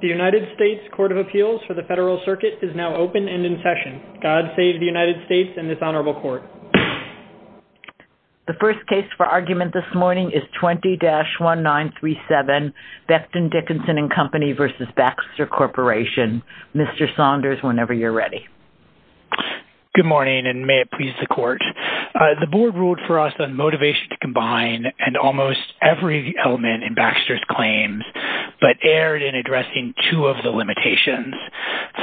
The United States Court of Appeals for the Federal Circuit is now open and in session. God save the United States and this Honorable Court. The first case for argument this morning is 20-1937 Becton, Dickinson and Company v. Baxter Corporation. Mr. Saunders, whenever you're ready. Good morning, and may it please the Court. The board ruled for us on motivation to combine and almost every element in Baxter's claims. But erred in addressing two of the limitations.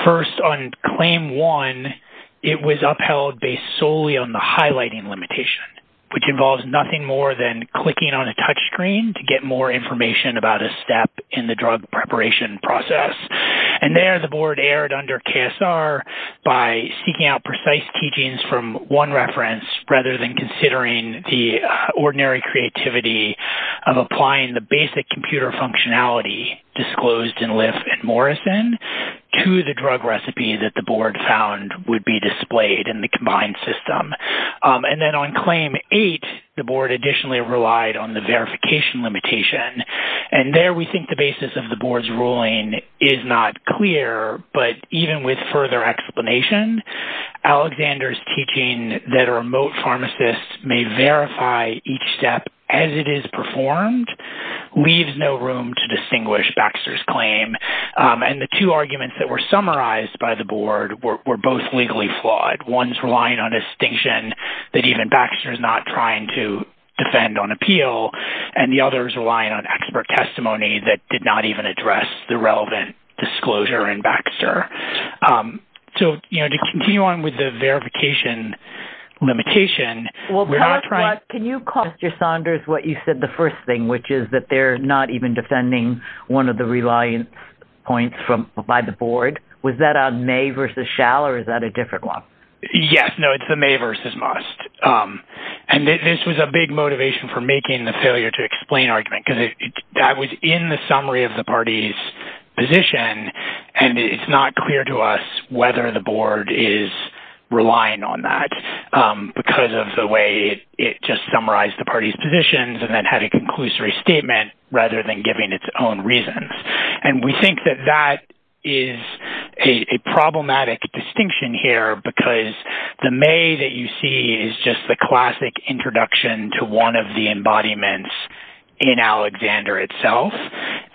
First, on claim one, it was upheld based solely on the highlighting limitation, which involves nothing more than clicking on a touchscreen to get more information about a step in the drug preparation process. And there, the board erred under KSR by seeking out precise teachings from one reference rather than considering the originality disclosed in Liff and Morrison to the drug recipe that the board found would be displayed in the combined system. And then on claim eight, the board additionally relied on the verification limitation. And there, we think the basis of the board's ruling is not clear, but even with further explanation, Alexander's teaching that a remote pharmacist may verify each step as it is performed leaves no room to distinguish Baxter's claim. And the two arguments that were summarized by the board were both legally flawed. One's relying on a distinction that even Baxter is not trying to defend on appeal, and the other is relying on expert testimony that did not even address the relevant disclosure in Baxter. So, you know, to continue on with the verification limitation... Can you call Mr. Saunders what you said the first thing, which is that they're not even defending one of the reliance points by the board? Was that a may versus shall, or is that a different one? Yes. No, it's the may versus must. And this was a big motivation for making the failure to explain argument, because I was in the summary of the party's position, and it's not clear to us whether the board is relying on that because of the way it just summarized the party's positions and then had a conclusory statement rather than giving its own reasons. And we think that that is a problematic distinction here, because the may that you see is just the classic introduction to one of the embodiments in Alexander itself.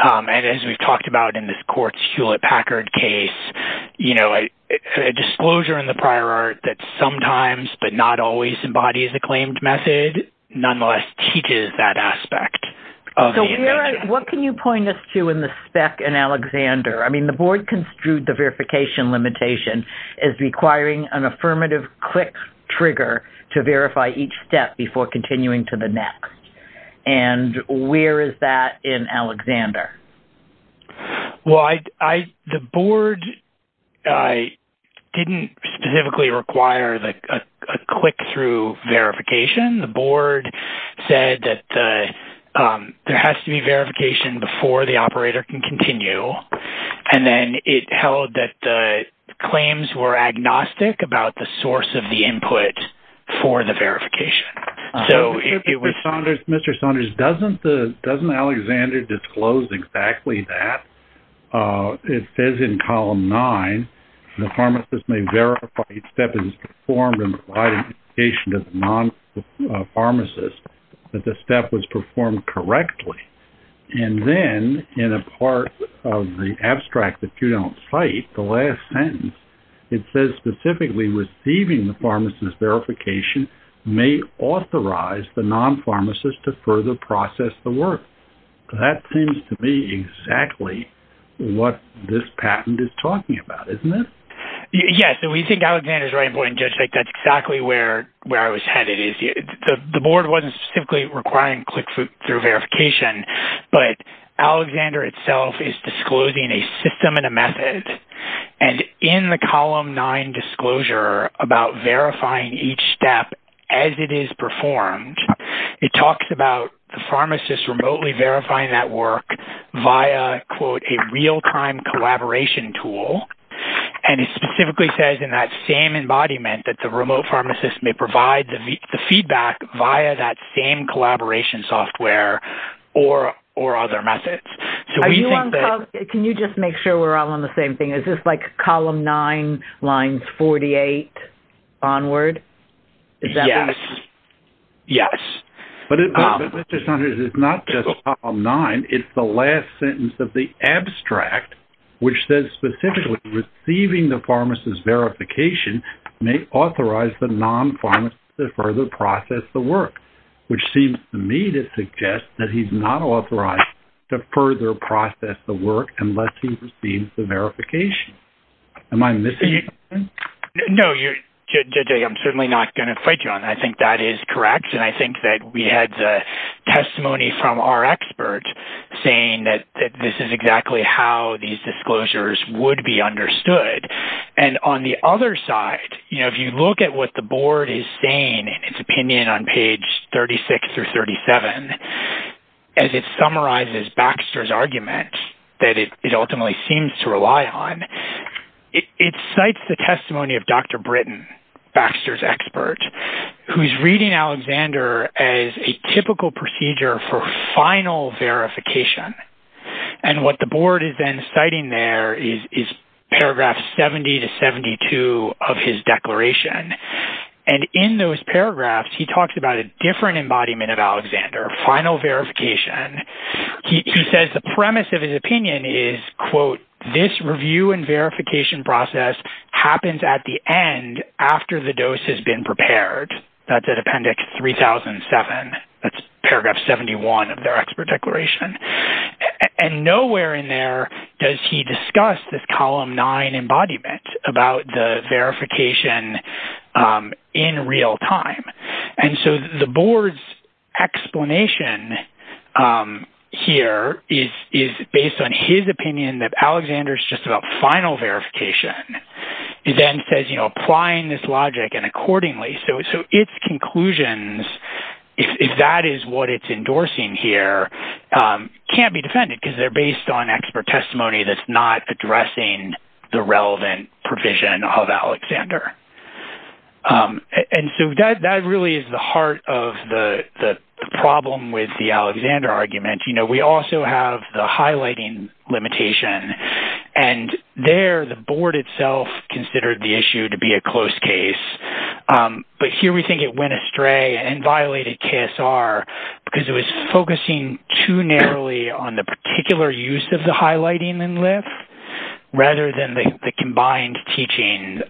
And as we've talked about in this court's Hewlett-Packard case, you know, a disclosure in the prior art that sometimes, but not always, embodies the claimed method nonetheless teaches that aspect. What can you point us to in the spec in Alexander? I mean, the board construed the verification limitation as requiring an affirmative click trigger to verify each step before continuing to the next. And where is that in Alexander? Well, I, the board didn't specifically require a click-through verification. The board said that there has to be verification before the operator can continue, and then it held that claims were agnostic about the source of the input for the verification. So, Mr. Saunders, doesn't the, doesn't Alexander disclose exactly that? It says in column 9, the pharmacist may verify each step is performed in the identification of the non-pharmacist, that the step was performed correctly. And then in a part of the abstract that you don't cite, the last sentence, it says specifically receiving the pharmacist's verification may authorize the non-pharmacist to further process the work. That seems to be exactly what this patent is talking about, isn't it? Yes, so we think Alexander's right in pointing, Judge. Like, that's exactly where, where I was headed is, the board wasn't specifically requiring click-through verification, but Alexander itself is disclosing a system and a method, and in the column 9 disclosure about verifying each step as it is performed, it talks about the pharmacist remotely verifying that work via, quote, a real-time collaboration tool, and it specifically says in that same embodiment that the remote pharmacist may provide the feedback via that same collaboration software or, or other methods. So we think that... Can you just make sure we're all on the same thing? Is this like column 9, lines 48 onward? Yes. Yes. It's not just column 9, it's the last sentence of the abstract, which says specifically receiving the pharmacist's verification may authorize the non-pharmacist to further process the work, which seems to me to suggest that he's not authorized to further process the work unless he receives the verification. Am I missing something? No, you're... Judge A, I'm certainly not going to fight you on that. I think that is correct, and I think that we had the testimony from our expert saying that this is exactly how these disclosures would be understood, and on the other side, you know, if you look at what the board is saying in its opinion on page 36 or 37, as it summarizes Baxter's argument that it ultimately seems to rely on, it cites the testimony of Dr. Britton, Baxter's expert, who's reading Alexander as a typical procedure for final verification, and what the board is then citing there is paragraph 70 to 72 of his declaration, and in those paragraphs, he talks about a different embodiment of Alexander, final verification. He says the premise of his opinion is, quote, this review and verification process happens at the end after the dose has been prepared. That's at Appendix 3007. That's paragraph 71 of their expert declaration, and nowhere in there does he discuss this column 9 embodiment about the verification in real time, and so the board's explanation here is based on his opinion that Alexander is just about final verification. He then says, you know, applying this logic and accordingly, so its conclusions, if that is what it's endorsing here, can't be defended because they're based on expert testimony that's not addressing the relevant provision of Alexander. And so that really is the heart of the problem with the Alexander argument. You know, we also have the highlighting limitation, and there, the board itself considered the issue to be a close case, but here we think it went astray and violated KSR because it was focusing too narrowly on the particular use of the highlighting in LIFF, rather than the combined teaching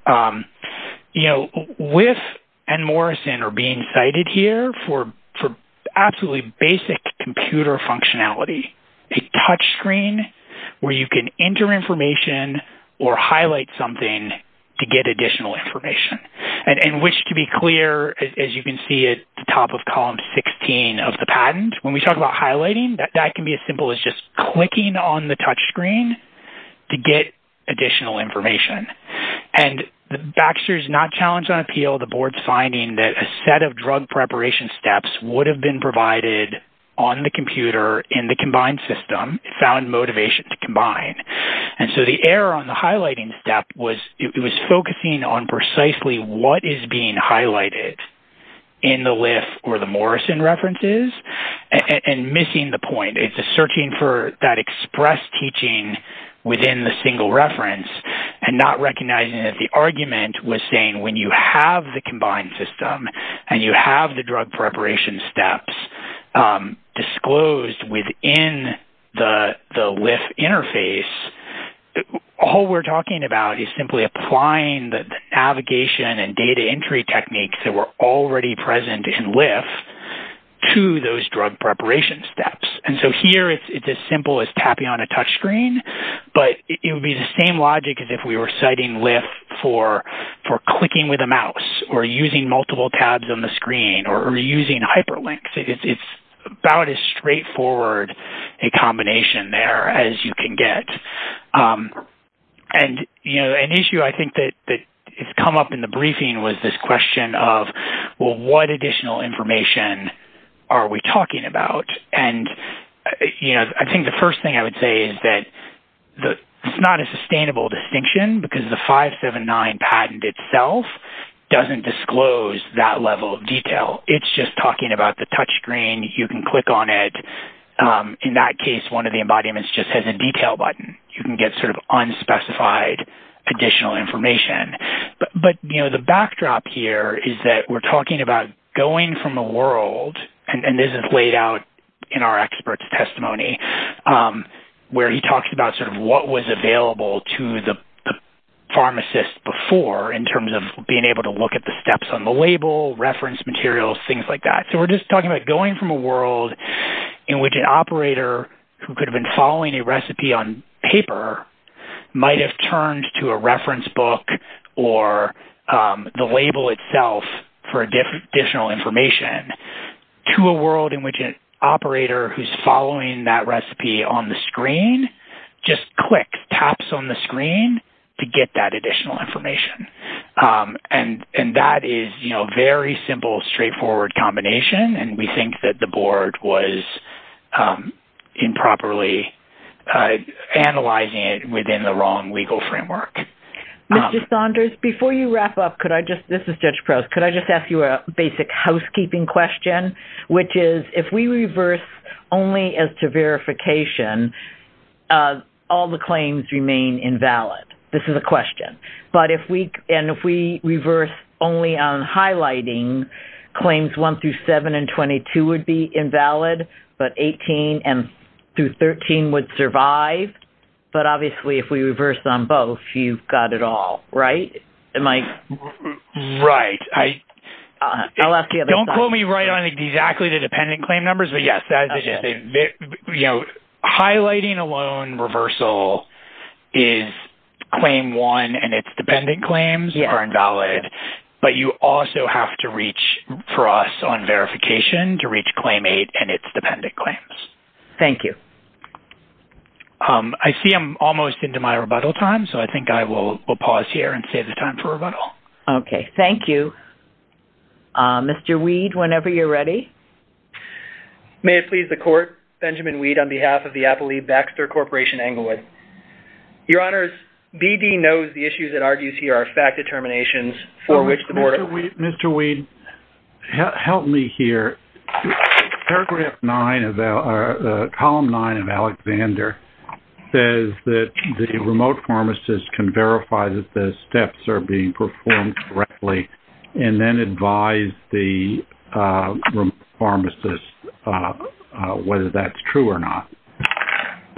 You know, LIFF and Morrison are being cited here for absolutely basic computer functionality, a touchscreen where you can enter information or highlight something to get additional information, and which to be clear, as you can see at the top of column 16 of the patent, when we talk about highlighting, that can be as simple as just clicking on the touchscreen to get additional information, and the Baxter's not challenged on appeal, the board's finding that a set of drug preparation steps would have been provided on the computer in the combined system, found motivation to combine, and so the error on the highlighting step was, it was focusing on precisely what is being highlighted in the LIFF or the Morrison references, and missing the point. It's a searching for that expressed teaching within the single reference and not recognizing that the argument was saying when you have the combined system and you have the drug preparation steps disclosed within the LIFF interface, all we're talking about is simply applying the navigation and data entry techniques that were already present in LIFF to those drug preparation steps, and so here it's as simple as tapping on a touchscreen but it would be the same logic as if we were citing LIFF for clicking with a mouse or using multiple tabs on the screen or using hyperlinks. It's about as straightforward a combination there as you can get, and you know, an issue I think that has come up in the briefing was this question of, well, what additional information are we talking about, and you know, I think the first thing I would say is that it's not a sustainable distinction because the 579 patent itself doesn't disclose that level of detail. It's just talking about the touchscreen. You can click on it. In that case, one of the embodiments just has a detail button. You can get sort of unspecified additional information, but you know, the backdrop here is that we're talking about going from a world, and this is laid out in our experts' testimony, where he talks about sort of what was available to the pharmacist before in terms of being able to look at the steps on the label, reference materials, things like that. So we're just talking about going from a world in which an operator who could have been following a recipe on paper might have turned to a reference book or the label itself for additional information. To a world in which an operator who's following that recipe on the screen just clicks, taps on the screen to get that additional information. And that is, you know, a very simple straightforward combination, and we think that the board was improperly analyzing it within the wrong legal framework. Mr. Saunders, before you wrap up, could I just, this is Judge Prowse, could I just ask you a basic housekeeping question? Which is, if we reverse only as to verification, all the claims remain invalid. This is a question. But if we, and if we reverse only on highlighting claims 1 through 7 and 22 would be invalid, but 18 and through 13 would survive. But obviously, if we reverse on both, you've got it all, right, Mike? Right. Don't quote me right on exactly the dependent claim numbers, but yes, you know, highlighting alone reversal is claim 1 and its dependent claims are invalid. But you also have to reach for us on verification to reach claim 8 and its dependent claims. Thank you. Um, I see I'm almost into my rebuttal time, so I think I will pause here and save the time for rebuttal. Okay. Thank you. Mr. Weed, whenever you're ready. May it please the court, Benjamin Weed on behalf of the Appalachian Baxter Corporation, Englewood. Your Honors, BD knows the issues it argues here are fact determinations for which the board... Mr. Weed, help me here. Paragraph 9 of our... Column 9 of Alexander says that the remote pharmacist can verify that the steps are being performed correctly and then advise the pharmacist whether that's true or not.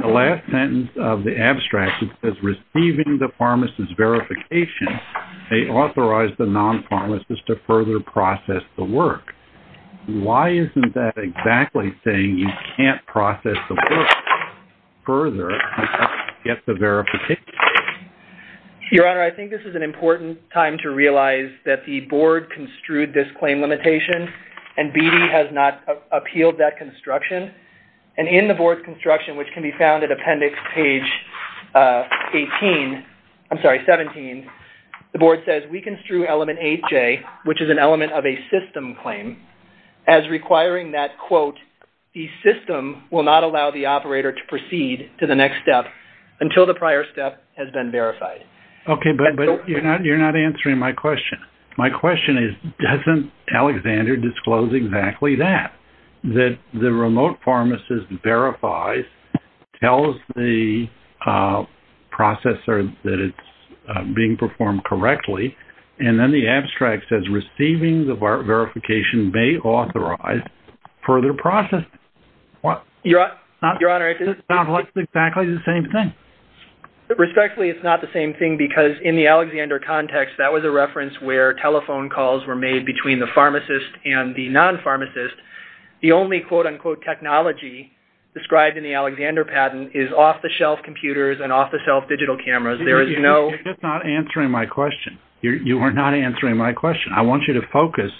The last sentence of the abstract is receiving the pharmacist's verification, they authorize the non-pharmacist to further process the work. Why isn't that exactly saying you can't process the work further to get the verification? Your Honor, I think this is an important time to realize that the board construed this claim limitation and BD has not appealed that construction. And in the board's construction, which can be found at appendix page 18, I'm sorry, 17, the board says we construe element 8J, which is an element of a system claim. As requiring that, quote, the system will not allow the operator to proceed to the next step until the prior step has been verified. Okay, but you're not answering my question. My question is doesn't Alexander disclose exactly that? That the remote pharmacist verifies, tells the processor that it's being performed correctly, and then the abstract says receiving the verification may authorize further processing. Your Honor, it's exactly the same thing. Respectfully, it's not the same thing because in the Alexander context, that was a reference where telephone calls were made between the pharmacist and the non-pharmacist. The only quote-unquote technology described in the Alexander patent is off-the-shelf computers and off-the-shelf digital cameras. There is no... You're just not answering my question. You are not answering my question. I want you to focus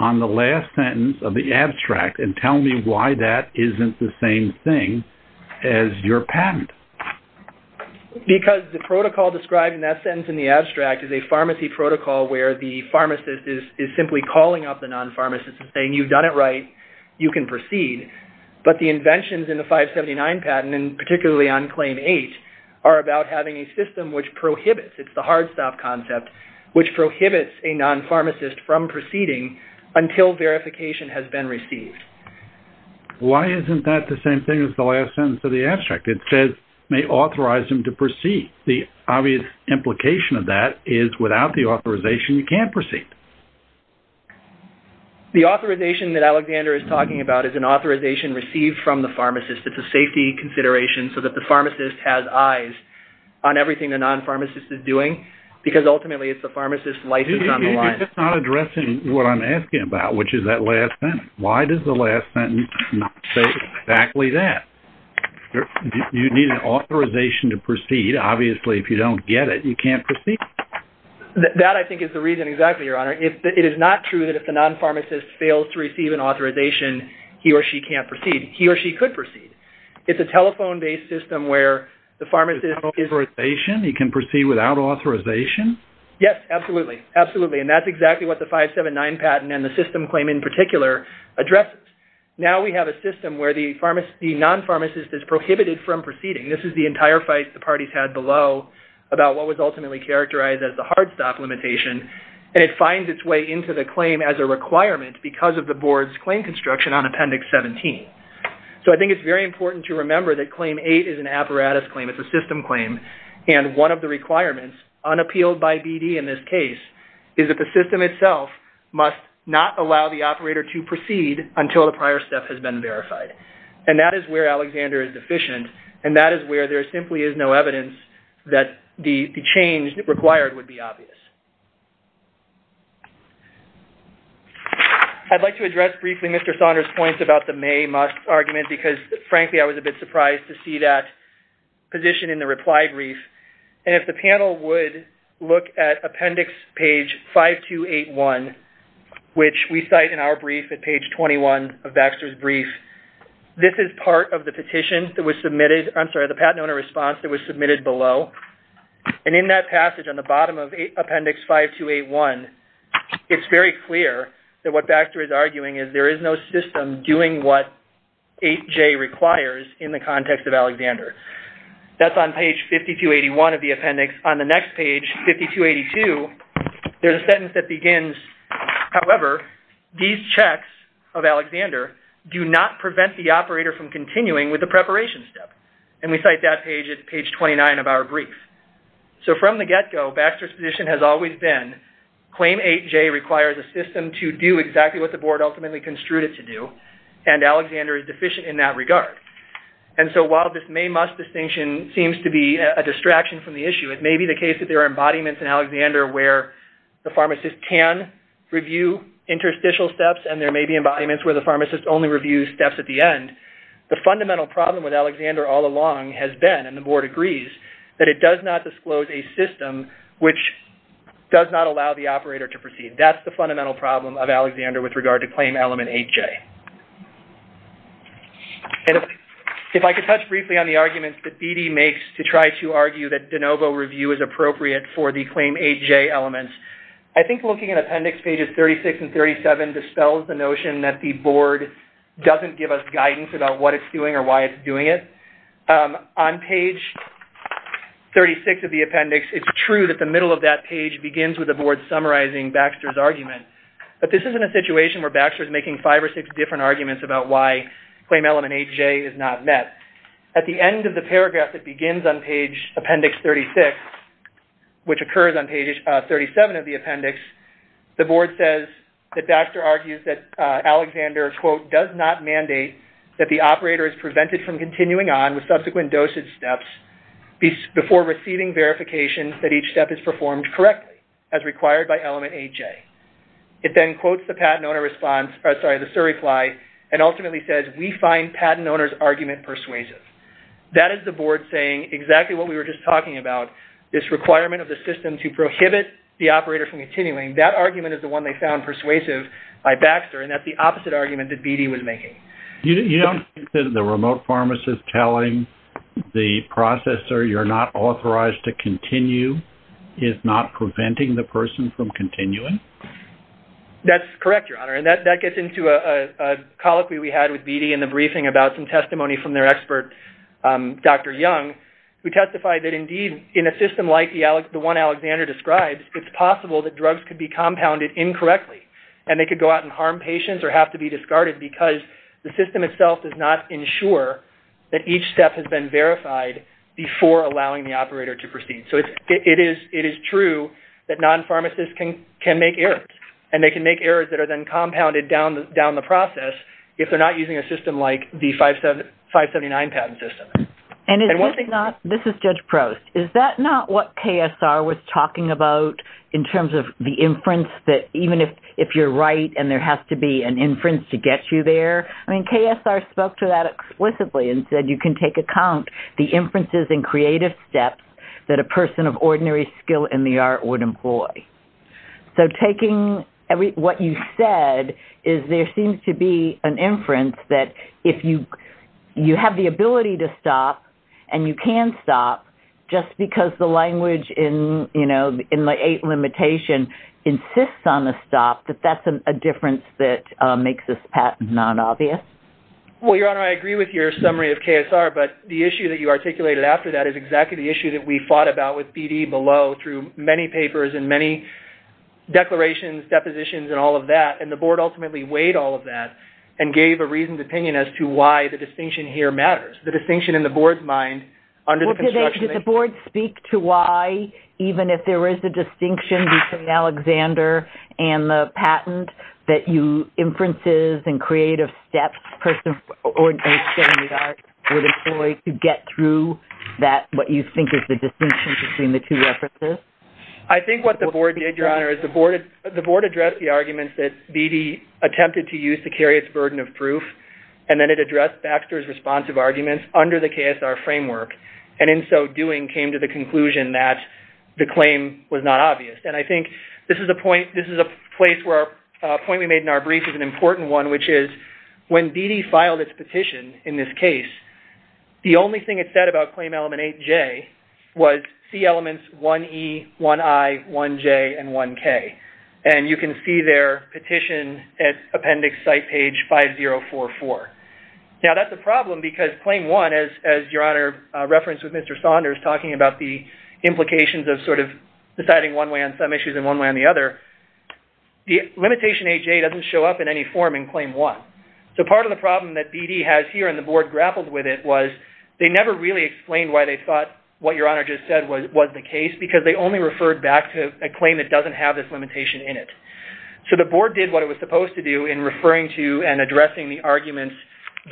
on the last sentence of the abstract and tell me why that isn't the same thing as your patent. Because the protocol described in that sentence in the abstract is a pharmacy protocol where the pharmacist is simply calling up the non-pharmacist and saying you've done it right, you can proceed. But the inventions in the 579 patent, and particularly on claim 8, are about having a system which prohibits, it's the hard stop concept, which prohibits a non-pharmacist from proceeding until verification has been received. Why isn't that the same thing as the last sentence of the abstract? It says may authorize him to proceed. The obvious implication of that is without the authorization, you can't proceed. The authorization that Alexander is talking about is an authorization received from the pharmacist. It's a safety consideration so that the pharmacist has eyes on everything the non-pharmacist is doing because ultimately it's the pharmacist's license on the line. I'm just not addressing what I'm asking about, which is that last sentence. Why does the last sentence say exactly that? You need an authorization to proceed. Obviously, if you don't get it, you can't proceed. That, I think, is the reason exactly, Your Honor. It is not true that if the non-pharmacist fails to receive an authorization, he or she can't proceed. He or she could proceed. It's a telephone-based system where the pharmacist is... He can proceed without authorization? Yes, absolutely. Absolutely. That's exactly what the 579 patent and the system claim in particular addresses. Now, we have a system where the non-pharmacist is prohibited from proceeding. This is the entire fight the parties had below about what was ultimately characterized as the hard stop limitation. It finds its way into the claim as a requirement because of the board's claim construction on Appendix 17. I think it's very important to remember that Claim 8 is an apparatus claim. It's a system claim, and one of the requirements, unappealed by BD in this case, is that the system itself must not allow the operator to proceed until the prior step has been verified. And that is where Alexander is deficient, and that is where there simply is no evidence that the change required would be obvious. I'd like to address briefly Mr. Saunders' points about the may-must argument because, frankly, I was a bit surprised to see that position in the reply brief. And if the panel would look at Appendix page 5281, which we cite in our brief at page 21 of Baxter's brief, this is part of the petition that was submitted. I'm sorry, the Patent Owner Response that was submitted below. And in that passage on the bottom of Appendix 5281, it's very clear that what Baxter is arguing is there is no system doing what the board ultimately construed it to do. That's on page 5281 of the appendix. On the next page, 5282, there's a sentence that begins, however, these checks of Alexander do not prevent the operator from continuing with the preparation step. And we cite that page at page 29 of our brief. So from the get-go, Baxter's position has always been Claim 8J requires a system to do exactly what the board ultimately construed it to do, and this distinction seems to be a distraction from the issue. It may be the case that there are embodiments in Alexander where the pharmacist can review interstitial steps, and there may be embodiments where the pharmacist only reviews steps at the end. The fundamental problem with Alexander all along has been, and the board agrees, that it does not disclose a system which does not allow the operator to proceed. That's the fundamental problem of Alexander with regard to Claim Element 8J. And if I could touch briefly on the arguments that BD makes to try to argue that de novo review is appropriate for the Claim 8J elements, I think looking at appendix pages 36 and 37 dispels the notion that the board doesn't give us guidance about what it's doing or why it's doing it. On page 36 of the appendix, it's true that the middle of that page begins with the board summarizing Baxter's argument, but this isn't a situation where Baxter is making five or six different arguments about why Claim Element 8J is not met. At the end of the paragraph that begins on page appendix 36, which occurs on page 37 of the appendix, the board says that Baxter argues that Alexander, quote, does not mandate that the operator is prevented from continuing on with subsequent dosage steps before receiving verification that each step is performed correctly as required by Element 8J. It then quotes the patent owner response, sorry, the surreply, and ultimately says, we find patent owner's argument persuasive. That is the board saying exactly what we were just talking about, this requirement of the system to prohibit the operator from continuing. That argument is the one they found persuasive by Baxter, and that's the opposite argument that BD was making. You don't think that the remote pharmacist telling the processor you're not authorized to continue is not preventing the person from continuing? That's correct, Your Honor, and that gets into a colloquy we had with BD in the briefing about some testimony from their expert, Dr. Young, who testified that indeed in a system like the one Alexander describes, it's possible that drugs could be compounded incorrectly, and they could go out and harm patients or have to be discarded because the system itself does not ensure that each step has been verified before allowing the operator to proceed. So it is true that non-pharmacists can make errors, and they can make errors that are then compounded down the process if they're not using a system like the 579 patent system. And is this not, this is Judge Prost, is that not what KSR was talking about in terms of the inference that even if you're right and there has to be an inference to get you there? I mean, KSR spoke to that explicitly and said you can take account the inferences and creative steps that a person of ordinary skill in the art would employ. So taking every, what you said is there seems to be an inference that if you you have the ability to stop and you can stop just because the language in, you know, in the eight limitation insists on the stop, that that's a difference that makes this patent non-obvious? Well, Your Honor, I agree with your summary of KSR, but the issue that you articulated after that is exactly the issue that we fought about with BD below through many papers and many declarations, depositions, and all of that. And the board ultimately weighed all of that and gave a reasoned opinion as to why the distinction here matters. The distinction in the board's mind under the construction... Well, did the board speak to why even if there is a distinction between Alexander and the patent that you, inferences and creative steps, a person of ordinary skill in the art would employ? To get through that, what you think is the distinction between the two references? I think what the board did, Your Honor, is the board addressed the arguments that BD attempted to use to carry its burden of proof, and then it addressed Baxter's responsive arguments under the KSR framework, and in so doing came to the conclusion that the claim was not obvious. And I think this is a point, this is a place where a point we made in our brief is an important one, which is when BD filed its petition in this case, the only thing it said about claim element 8J was C elements 1E, 1I, 1J, and 1K. And you can see their petition at appendix site page 5044. Now, that's a problem because claim 1, as Your Honor referenced with Mr. Saunders talking about the implications of sort of deciding one way on some issues and one way on the other, the limitation 8J doesn't show up in any form in claim 1. So part of the problem that BD has here and the board grappled with it was they never really explained why they thought what Your Honor just said was the case, because they only referred back to a claim that doesn't have this limitation in it. So the board did what it was supposed to do in referring to and addressing the arguments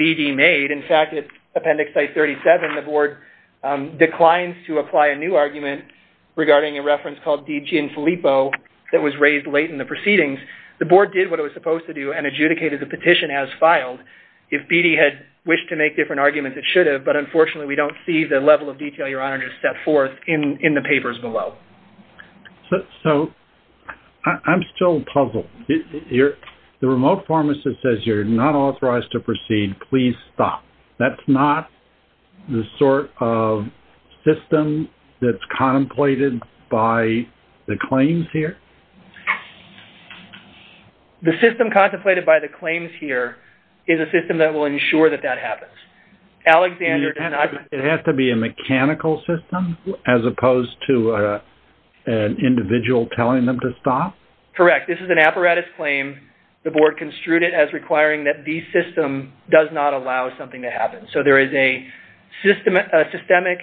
BD made. In fact, at appendix site 37, the board declines to apply a new argument regarding a reference called DG INFILIPPO that was raised late in the proceedings. The board did what it was supposed to do and adjudicated the petition as filed. If BD had wished to make different arguments, it should have, but unfortunately, we don't see the level of detail Your Honor just set forth in the papers below. So, I'm still puzzled. The remote pharmacist says you're not authorized to proceed. Please stop. That's not the sort of system that's contemplated by the claims here. The system contemplated by the claims here is a system that will ensure that that happens. It has to be a mechanical system as opposed to an individual telling them to stop? Correct. This is an apparatus claim. The board construed it as requiring that the system does not allow something to happen. So there is a systemic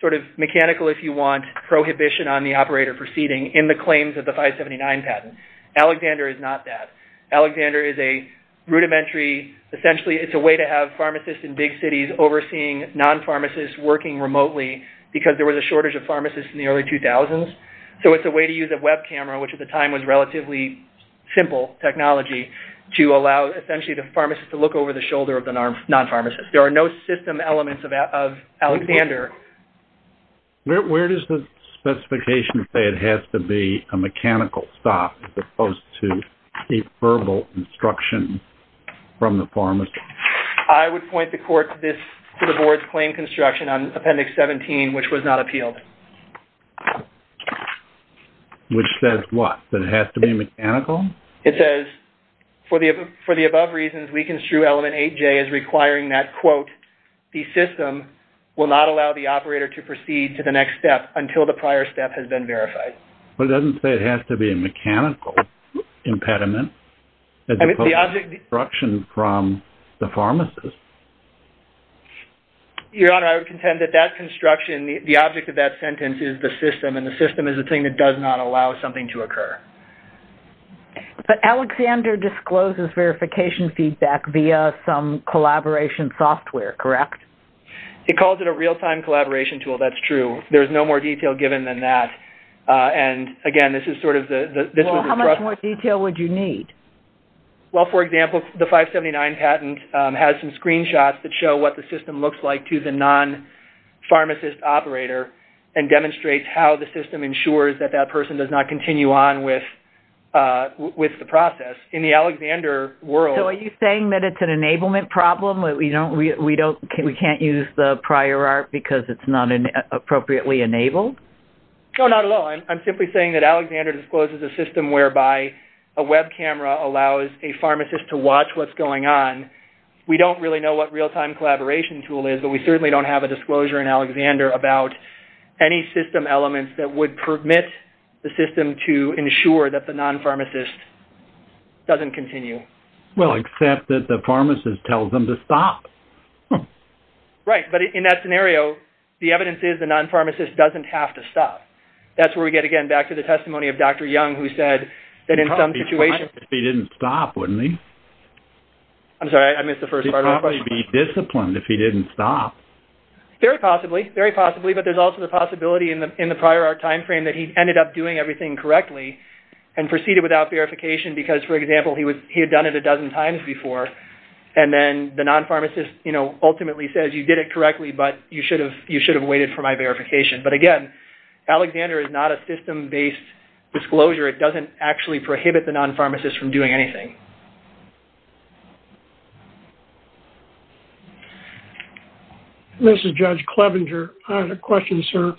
sort of mechanical, if you want, prohibition on the operator proceeding in the claims of the 579 patent. Alexander is not that. Alexander is a rudimentary, essentially, it's a way to have pharmacists in big cities overseeing non-pharmacists working remotely because there was a shortage of pharmacists in the early 2000s. So it's a way to use a web camera, which at the time was relatively simple technology, to allow essentially the pharmacist to look over the shoulder of the non-pharmacist. There are no system elements of Alexander. Where does the board view this as opposed to a verbal instruction from the pharmacist? I would point the court to the board's claim construction on Appendix 17, which was not appealed. Which says what? That it has to be mechanical? It says, for the above reasons, we construe Element 8J as requiring that, quote, the system will not allow the operator to proceed to the next step until the prior step has been verified. But it doesn't say it has to be a mechanical impediment, as opposed to instruction from the pharmacist. Your Honor, I would contend that that construction, the object of that sentence, is the system, and the system is a thing that does not allow something to occur. But Alexander discloses verification feedback via some collaboration software, correct? It calls it a real-time collaboration tool. That's true. There's no more detail given than that. And again, this is sort of the... How much more detail would you need? Well, for example, the 579 patent has some screenshots that show what the system looks like to the non-pharmacist operator, and demonstrates how the system ensures that that person does not continue on with the process. In the Alexander world... So are you saying that it's an enablement problem? We can't use the prior art because it's not appropriately enabled? No, not at all. I'm simply saying that Alexander discloses a system whereby a web camera allows a pharmacist to watch what's going on. We don't really know what real-time collaboration tool is, but we certainly don't have a disclosure in Alexander about any system elements that would permit the system to ensure that the non-pharmacist doesn't continue. Well, except that the pharmacist tells them to stop. Right. But in that scenario, the evidence is the non-pharmacist doesn't have to stop. That's where we get again back to the testimony of Dr. Young, who said that in some situations... He'd probably be fine if he didn't stop, wouldn't he? I'm sorry. I missed the first part of the question. He'd probably be disciplined if he didn't stop. Very possibly. Very possibly. But there's also the possibility in the prior art time frame that he ended up doing everything correctly and proceeded without verification because, for example, he had done it a dozen times before, and then the non-pharmacist ultimately says, you did it correctly, but you should have waited for my verification. But again, Alexander is not a system-based disclosure. It doesn't actually prohibit the non-pharmacist from doing anything. This is Judge Clevenger. I have a question, sir.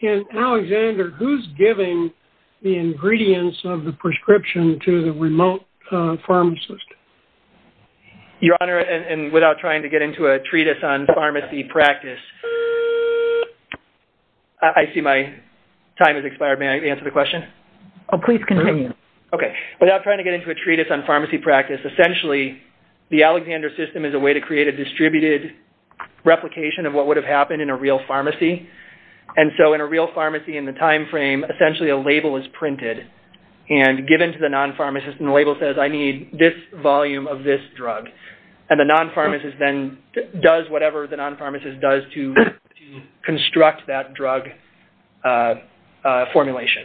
In Alexander, who's giving the ingredients of the prescription to the remote pharmacist? Your Honor, and without trying to get into a treatise on pharmacy practice... I see my time has expired. May I answer the question? Oh, please continue. Okay. Without trying to get into a treatise on pharmacy practice, essentially the Alexander system is a way to create a distributed replication of what would have happened in a real pharmacy. And so in a real pharmacy in the time frame, essentially a label is printed and given to the non-pharmacist, and the label says, I need this volume of this drug. And the non-pharmacist then does whatever the non-pharmacist does to construct that drug formulation.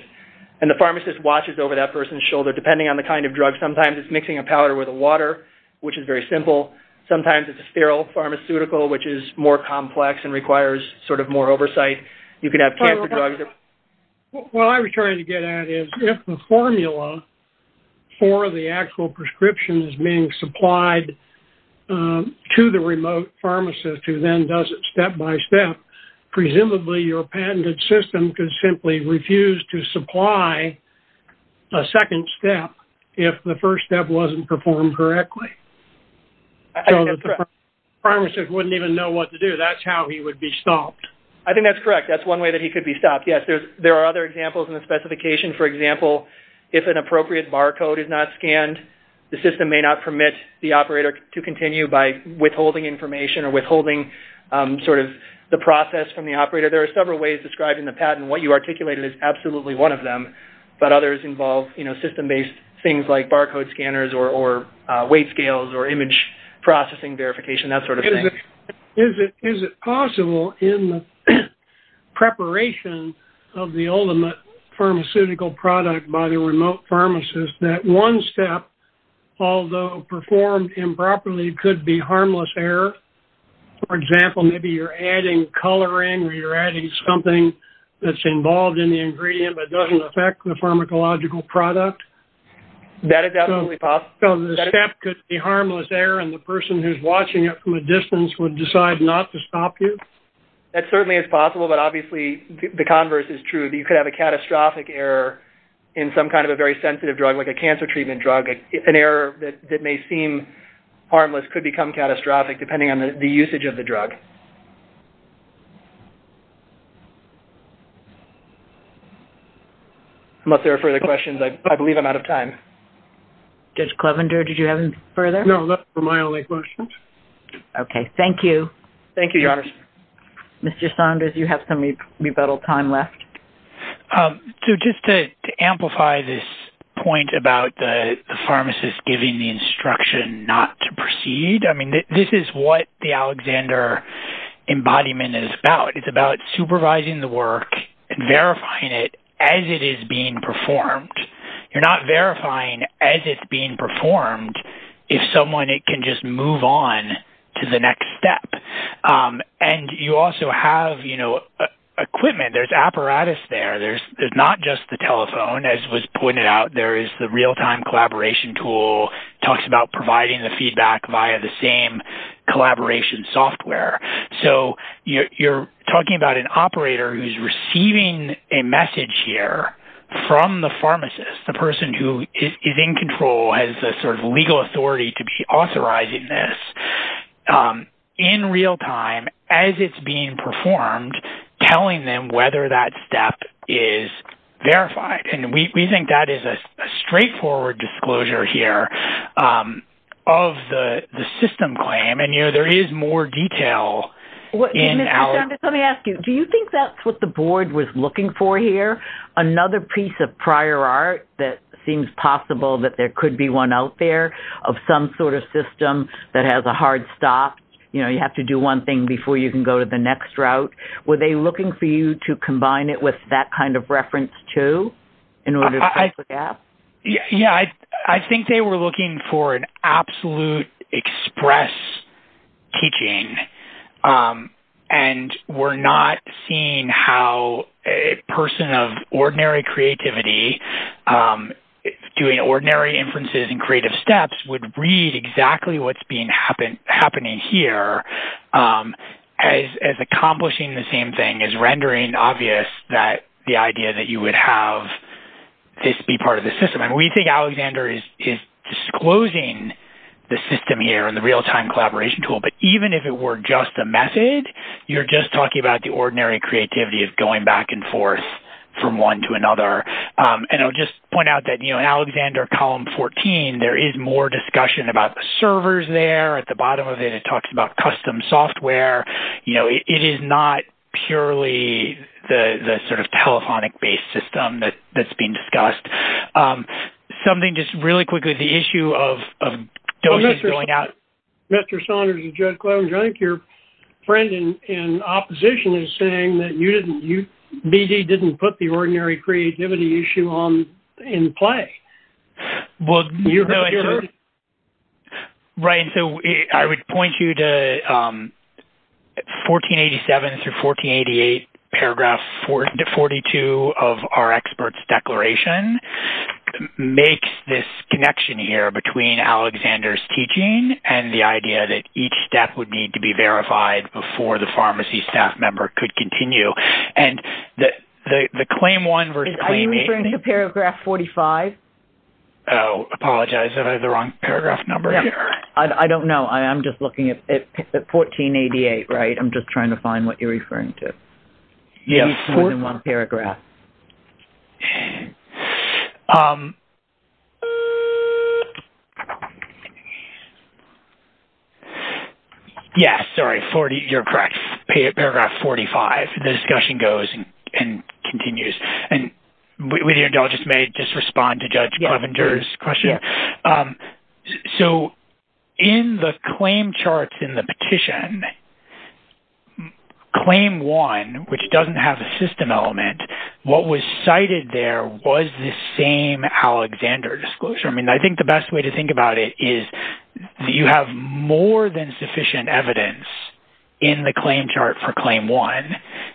And the pharmacist watches over that person's shoulder. Depending on the kind of drug, sometimes it's mixing a powder with a water, which is very simple. Sometimes it's a sterile pharmaceutical, which is more complex and requires sort of more oversight. You could have cancer drugs. What I was trying to get at is, if the formula for the actual prescription is being supplied to the remote pharmacist, who then does it step-by-step, presumably your patented system could simply refuse to supply a second step if the first step wasn't performed correctly. So the pharmacist wouldn't even know what to do. That's how he would be stopped. I think that's correct. That's one way that he could be stopped. Yes, there are other examples in the specification. For example, if an appropriate barcode is not scanned, the system may not permit the operator to continue by withholding information or withholding sort of the process from the operator. There are several ways describing the patent. What you articulated is absolutely one of them, but others involve, you know, system-based things like barcode scanners or weight scales or image processing verification, that sort of thing. Is it possible in the preparation of the ultimate pharmaceutical product by the remote pharmacist that one step, although performed improperly, could be harmless error? For example, maybe you're adding coloring or you're adding something that's involved in the ingredient, but doesn't affect the pharmacological product. That is absolutely possible. So the step could be harmless error and the person who's watching it from a distance would decide not to stop you? That certainly is possible, but obviously the converse is true. You could have a catastrophic error in some kind of a very sensitive drug, like a cancer treatment drug. An error that may seem harmless could become catastrophic depending on the usage of the drug. Unless there are further questions, I believe I'm out of time. Judge Clevender, did you have any further? No, that's my only question. Okay, thank you. Thank you, Your Honor. Mr. Saunders, you have some rebuttal time left. So just to amplify this point about the pharmacist giving the instruction not to proceed, I mean, this is what the Alexander embodiment is about. It's about supervising the work and verifying it as it is being performed. You're not verifying as it's being performed if someone can just move on to the next step. And you also have, you know, equipment. There's apparatus there. There's not just the telephone, as was pointed out. There is the real-time collaboration tool, talks about providing the feedback via the same collaboration software. So you're talking about an operator who's receiving a message here from the pharmacist, the person who is in control, has a sort of legal authority to be authorizing this in real time as it's being performed, telling them whether that step is verified. And we think that is a straightforward disclosure here of the system claim. And, you know, there is more detail in our... Is there another piece of prior art that seems possible that there could be one out there of some sort of system that has a hard stop? You know, you have to do one thing before you can go to the next route. Were they looking for you to combine it with that kind of reference, too, in order to... Yeah, I think they were looking for an absolute express teaching. And we're not seeing how a creativity doing ordinary inferences and creative steps would read exactly what's being happening here as accomplishing the same thing, as rendering obvious that the idea that you would have this be part of the system. And we think Alexander is disclosing the system here in the real-time collaboration tool. But even if it were just a method, you're just talking about the ordinary creativity of going back and forth from one to another. And I'll just point out that, you know, in Alexander Column 14, there is more discussion about the servers there. At the bottom of it, it talks about custom software. You know, it is not purely the sort of telephonic-based system that's being discussed. Something just really quickly, the issue of those going out... Mr. Saunders and Judge Klobuchar, I think your friend in the room has a creativity issue in play. Well, you know... Right, so I would point you to 1487 through 1488, paragraph 42 of our experts declaration, makes this connection here between Alexander's teaching and the idea that each step would need to be verified before the pharmacy staff member could continue. And the claim 1 versus claim 8... Are you referring to paragraph 45? Oh, I apologize, did I have the wrong paragraph number? I don't know. I'm just looking at 1488, right? I'm just trying to find what you're referring to. Yeah, it's more than one paragraph. Yes, sorry, you're correct. Paragraph 45, the discussion goes and continues, and with your indulgence, may I just respond to Judge Klobuchar's question? So in the claim charts in the petition, claim 1, which doesn't have a system element, what was cited there was the same Alexander disclosure. I mean, I think the best way to think about it is you have more than sufficient evidence in the claim chart for claim 1,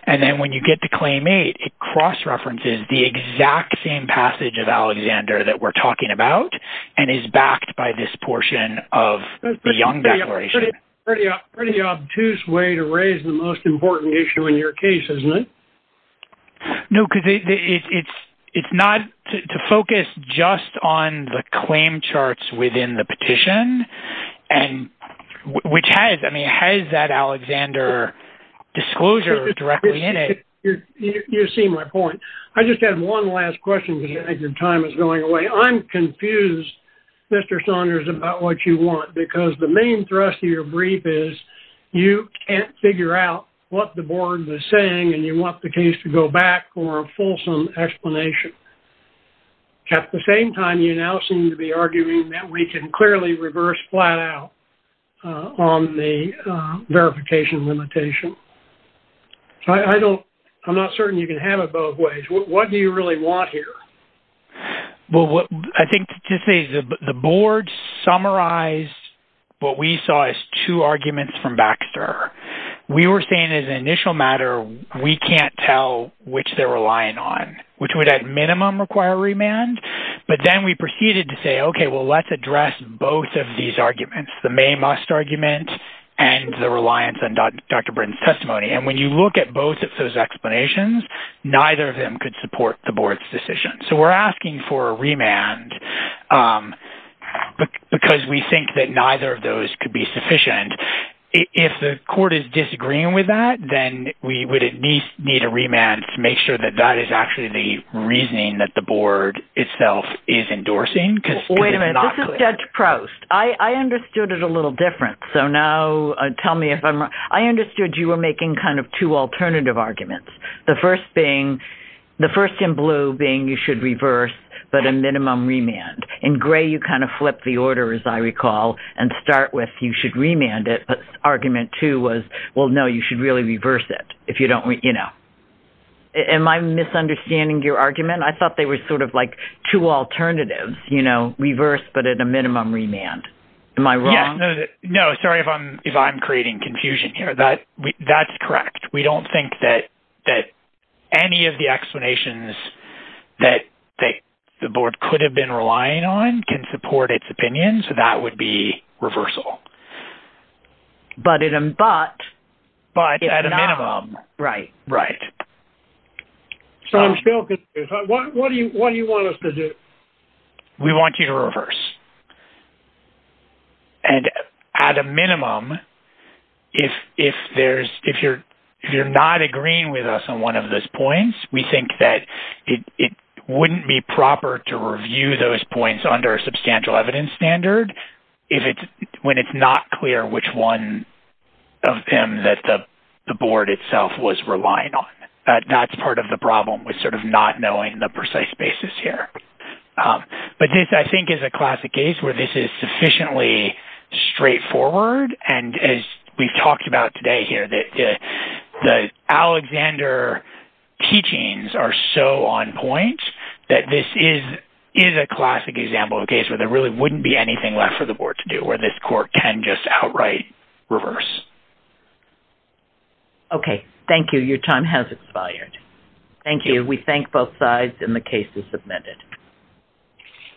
and then when you get to claim 8, it cross-references the exact same passage of Alexander that we're talking about, and is backed by this portion of the Young Declaration. It's a pretty obtuse way to raise the most important issue in your case, isn't it? No, because it's not to focus just on the claim charts within the petition, and which has, I mean, has that Alexander disclosure directly in it. You see my point. I just have one last question because I think your time is going away. I'm confused, Mr. Saunders, about what you want, because the main thrust of your brief is you can't figure out what the board was saying, and you want the case to go back for a fulsome explanation. At the same time, you now seem to be arguing that we can clearly reverse flat-out on the verification limitation. I don't, I'm not certain you can have it both ways. What do you really want here? Well, what I think to say is the board summarized what we saw as two arguments from Baxter. We were saying as an initial matter, we can't tell which they're relying on, which would at minimum require remand, but then we proceeded to say, okay, well, let's address both of these arguments, the may-must argument and the reliance on Dr. Britton's testimony. And when you look at both of those explanations, neither of them could support the board's decision. So we're asking for a remand because we think that neither of those could be sufficient. If the court is disagreeing with that, then we would at least need a remand to make sure that that is actually the reasoning that the board itself is endorsing. Wait a minute, this is Judge Proust. I understood it a little different. So now tell me if I'm wrong. I understood you were making kind of two alternative arguments. The first being, the first in blue being you should reverse, but a minimum remand. In gray, you kind of flip the order, as I recall, and start with you should remand it, but argument two was, well, no, you should really reverse it if you don't, you know. Am I misunderstanding your argument? I thought they were sort of like two alternatives, you know, reverse, but at a minimum remand. Am I wrong? No, sorry if I'm creating confusion here. That's correct. We don't think that any of the explanations that the board could have been relying on can support its opinion, so that would be reversal. But at a minimum. Right, right. So I'm still confused. What do you want us to do? We want you to reverse. And at a minimum, if you're not agreeing with us on one of those points, we think that it wouldn't be proper to review those points under a substantial evidence standard when it's not clear which one of them that the board itself was relying on. That's part of the problem with sort of not knowing the precise basis here. But this, I think, is a classic case where this is sufficiently straightforward. And as we've talked about today here, that the Alexander teachings are so on point that this is a classic example of a case where there really wouldn't be anything left for the board to do, where this court can just outright reverse. OK, thank you. Your time has expired. Thank you. We thank both sides and the case is submitted.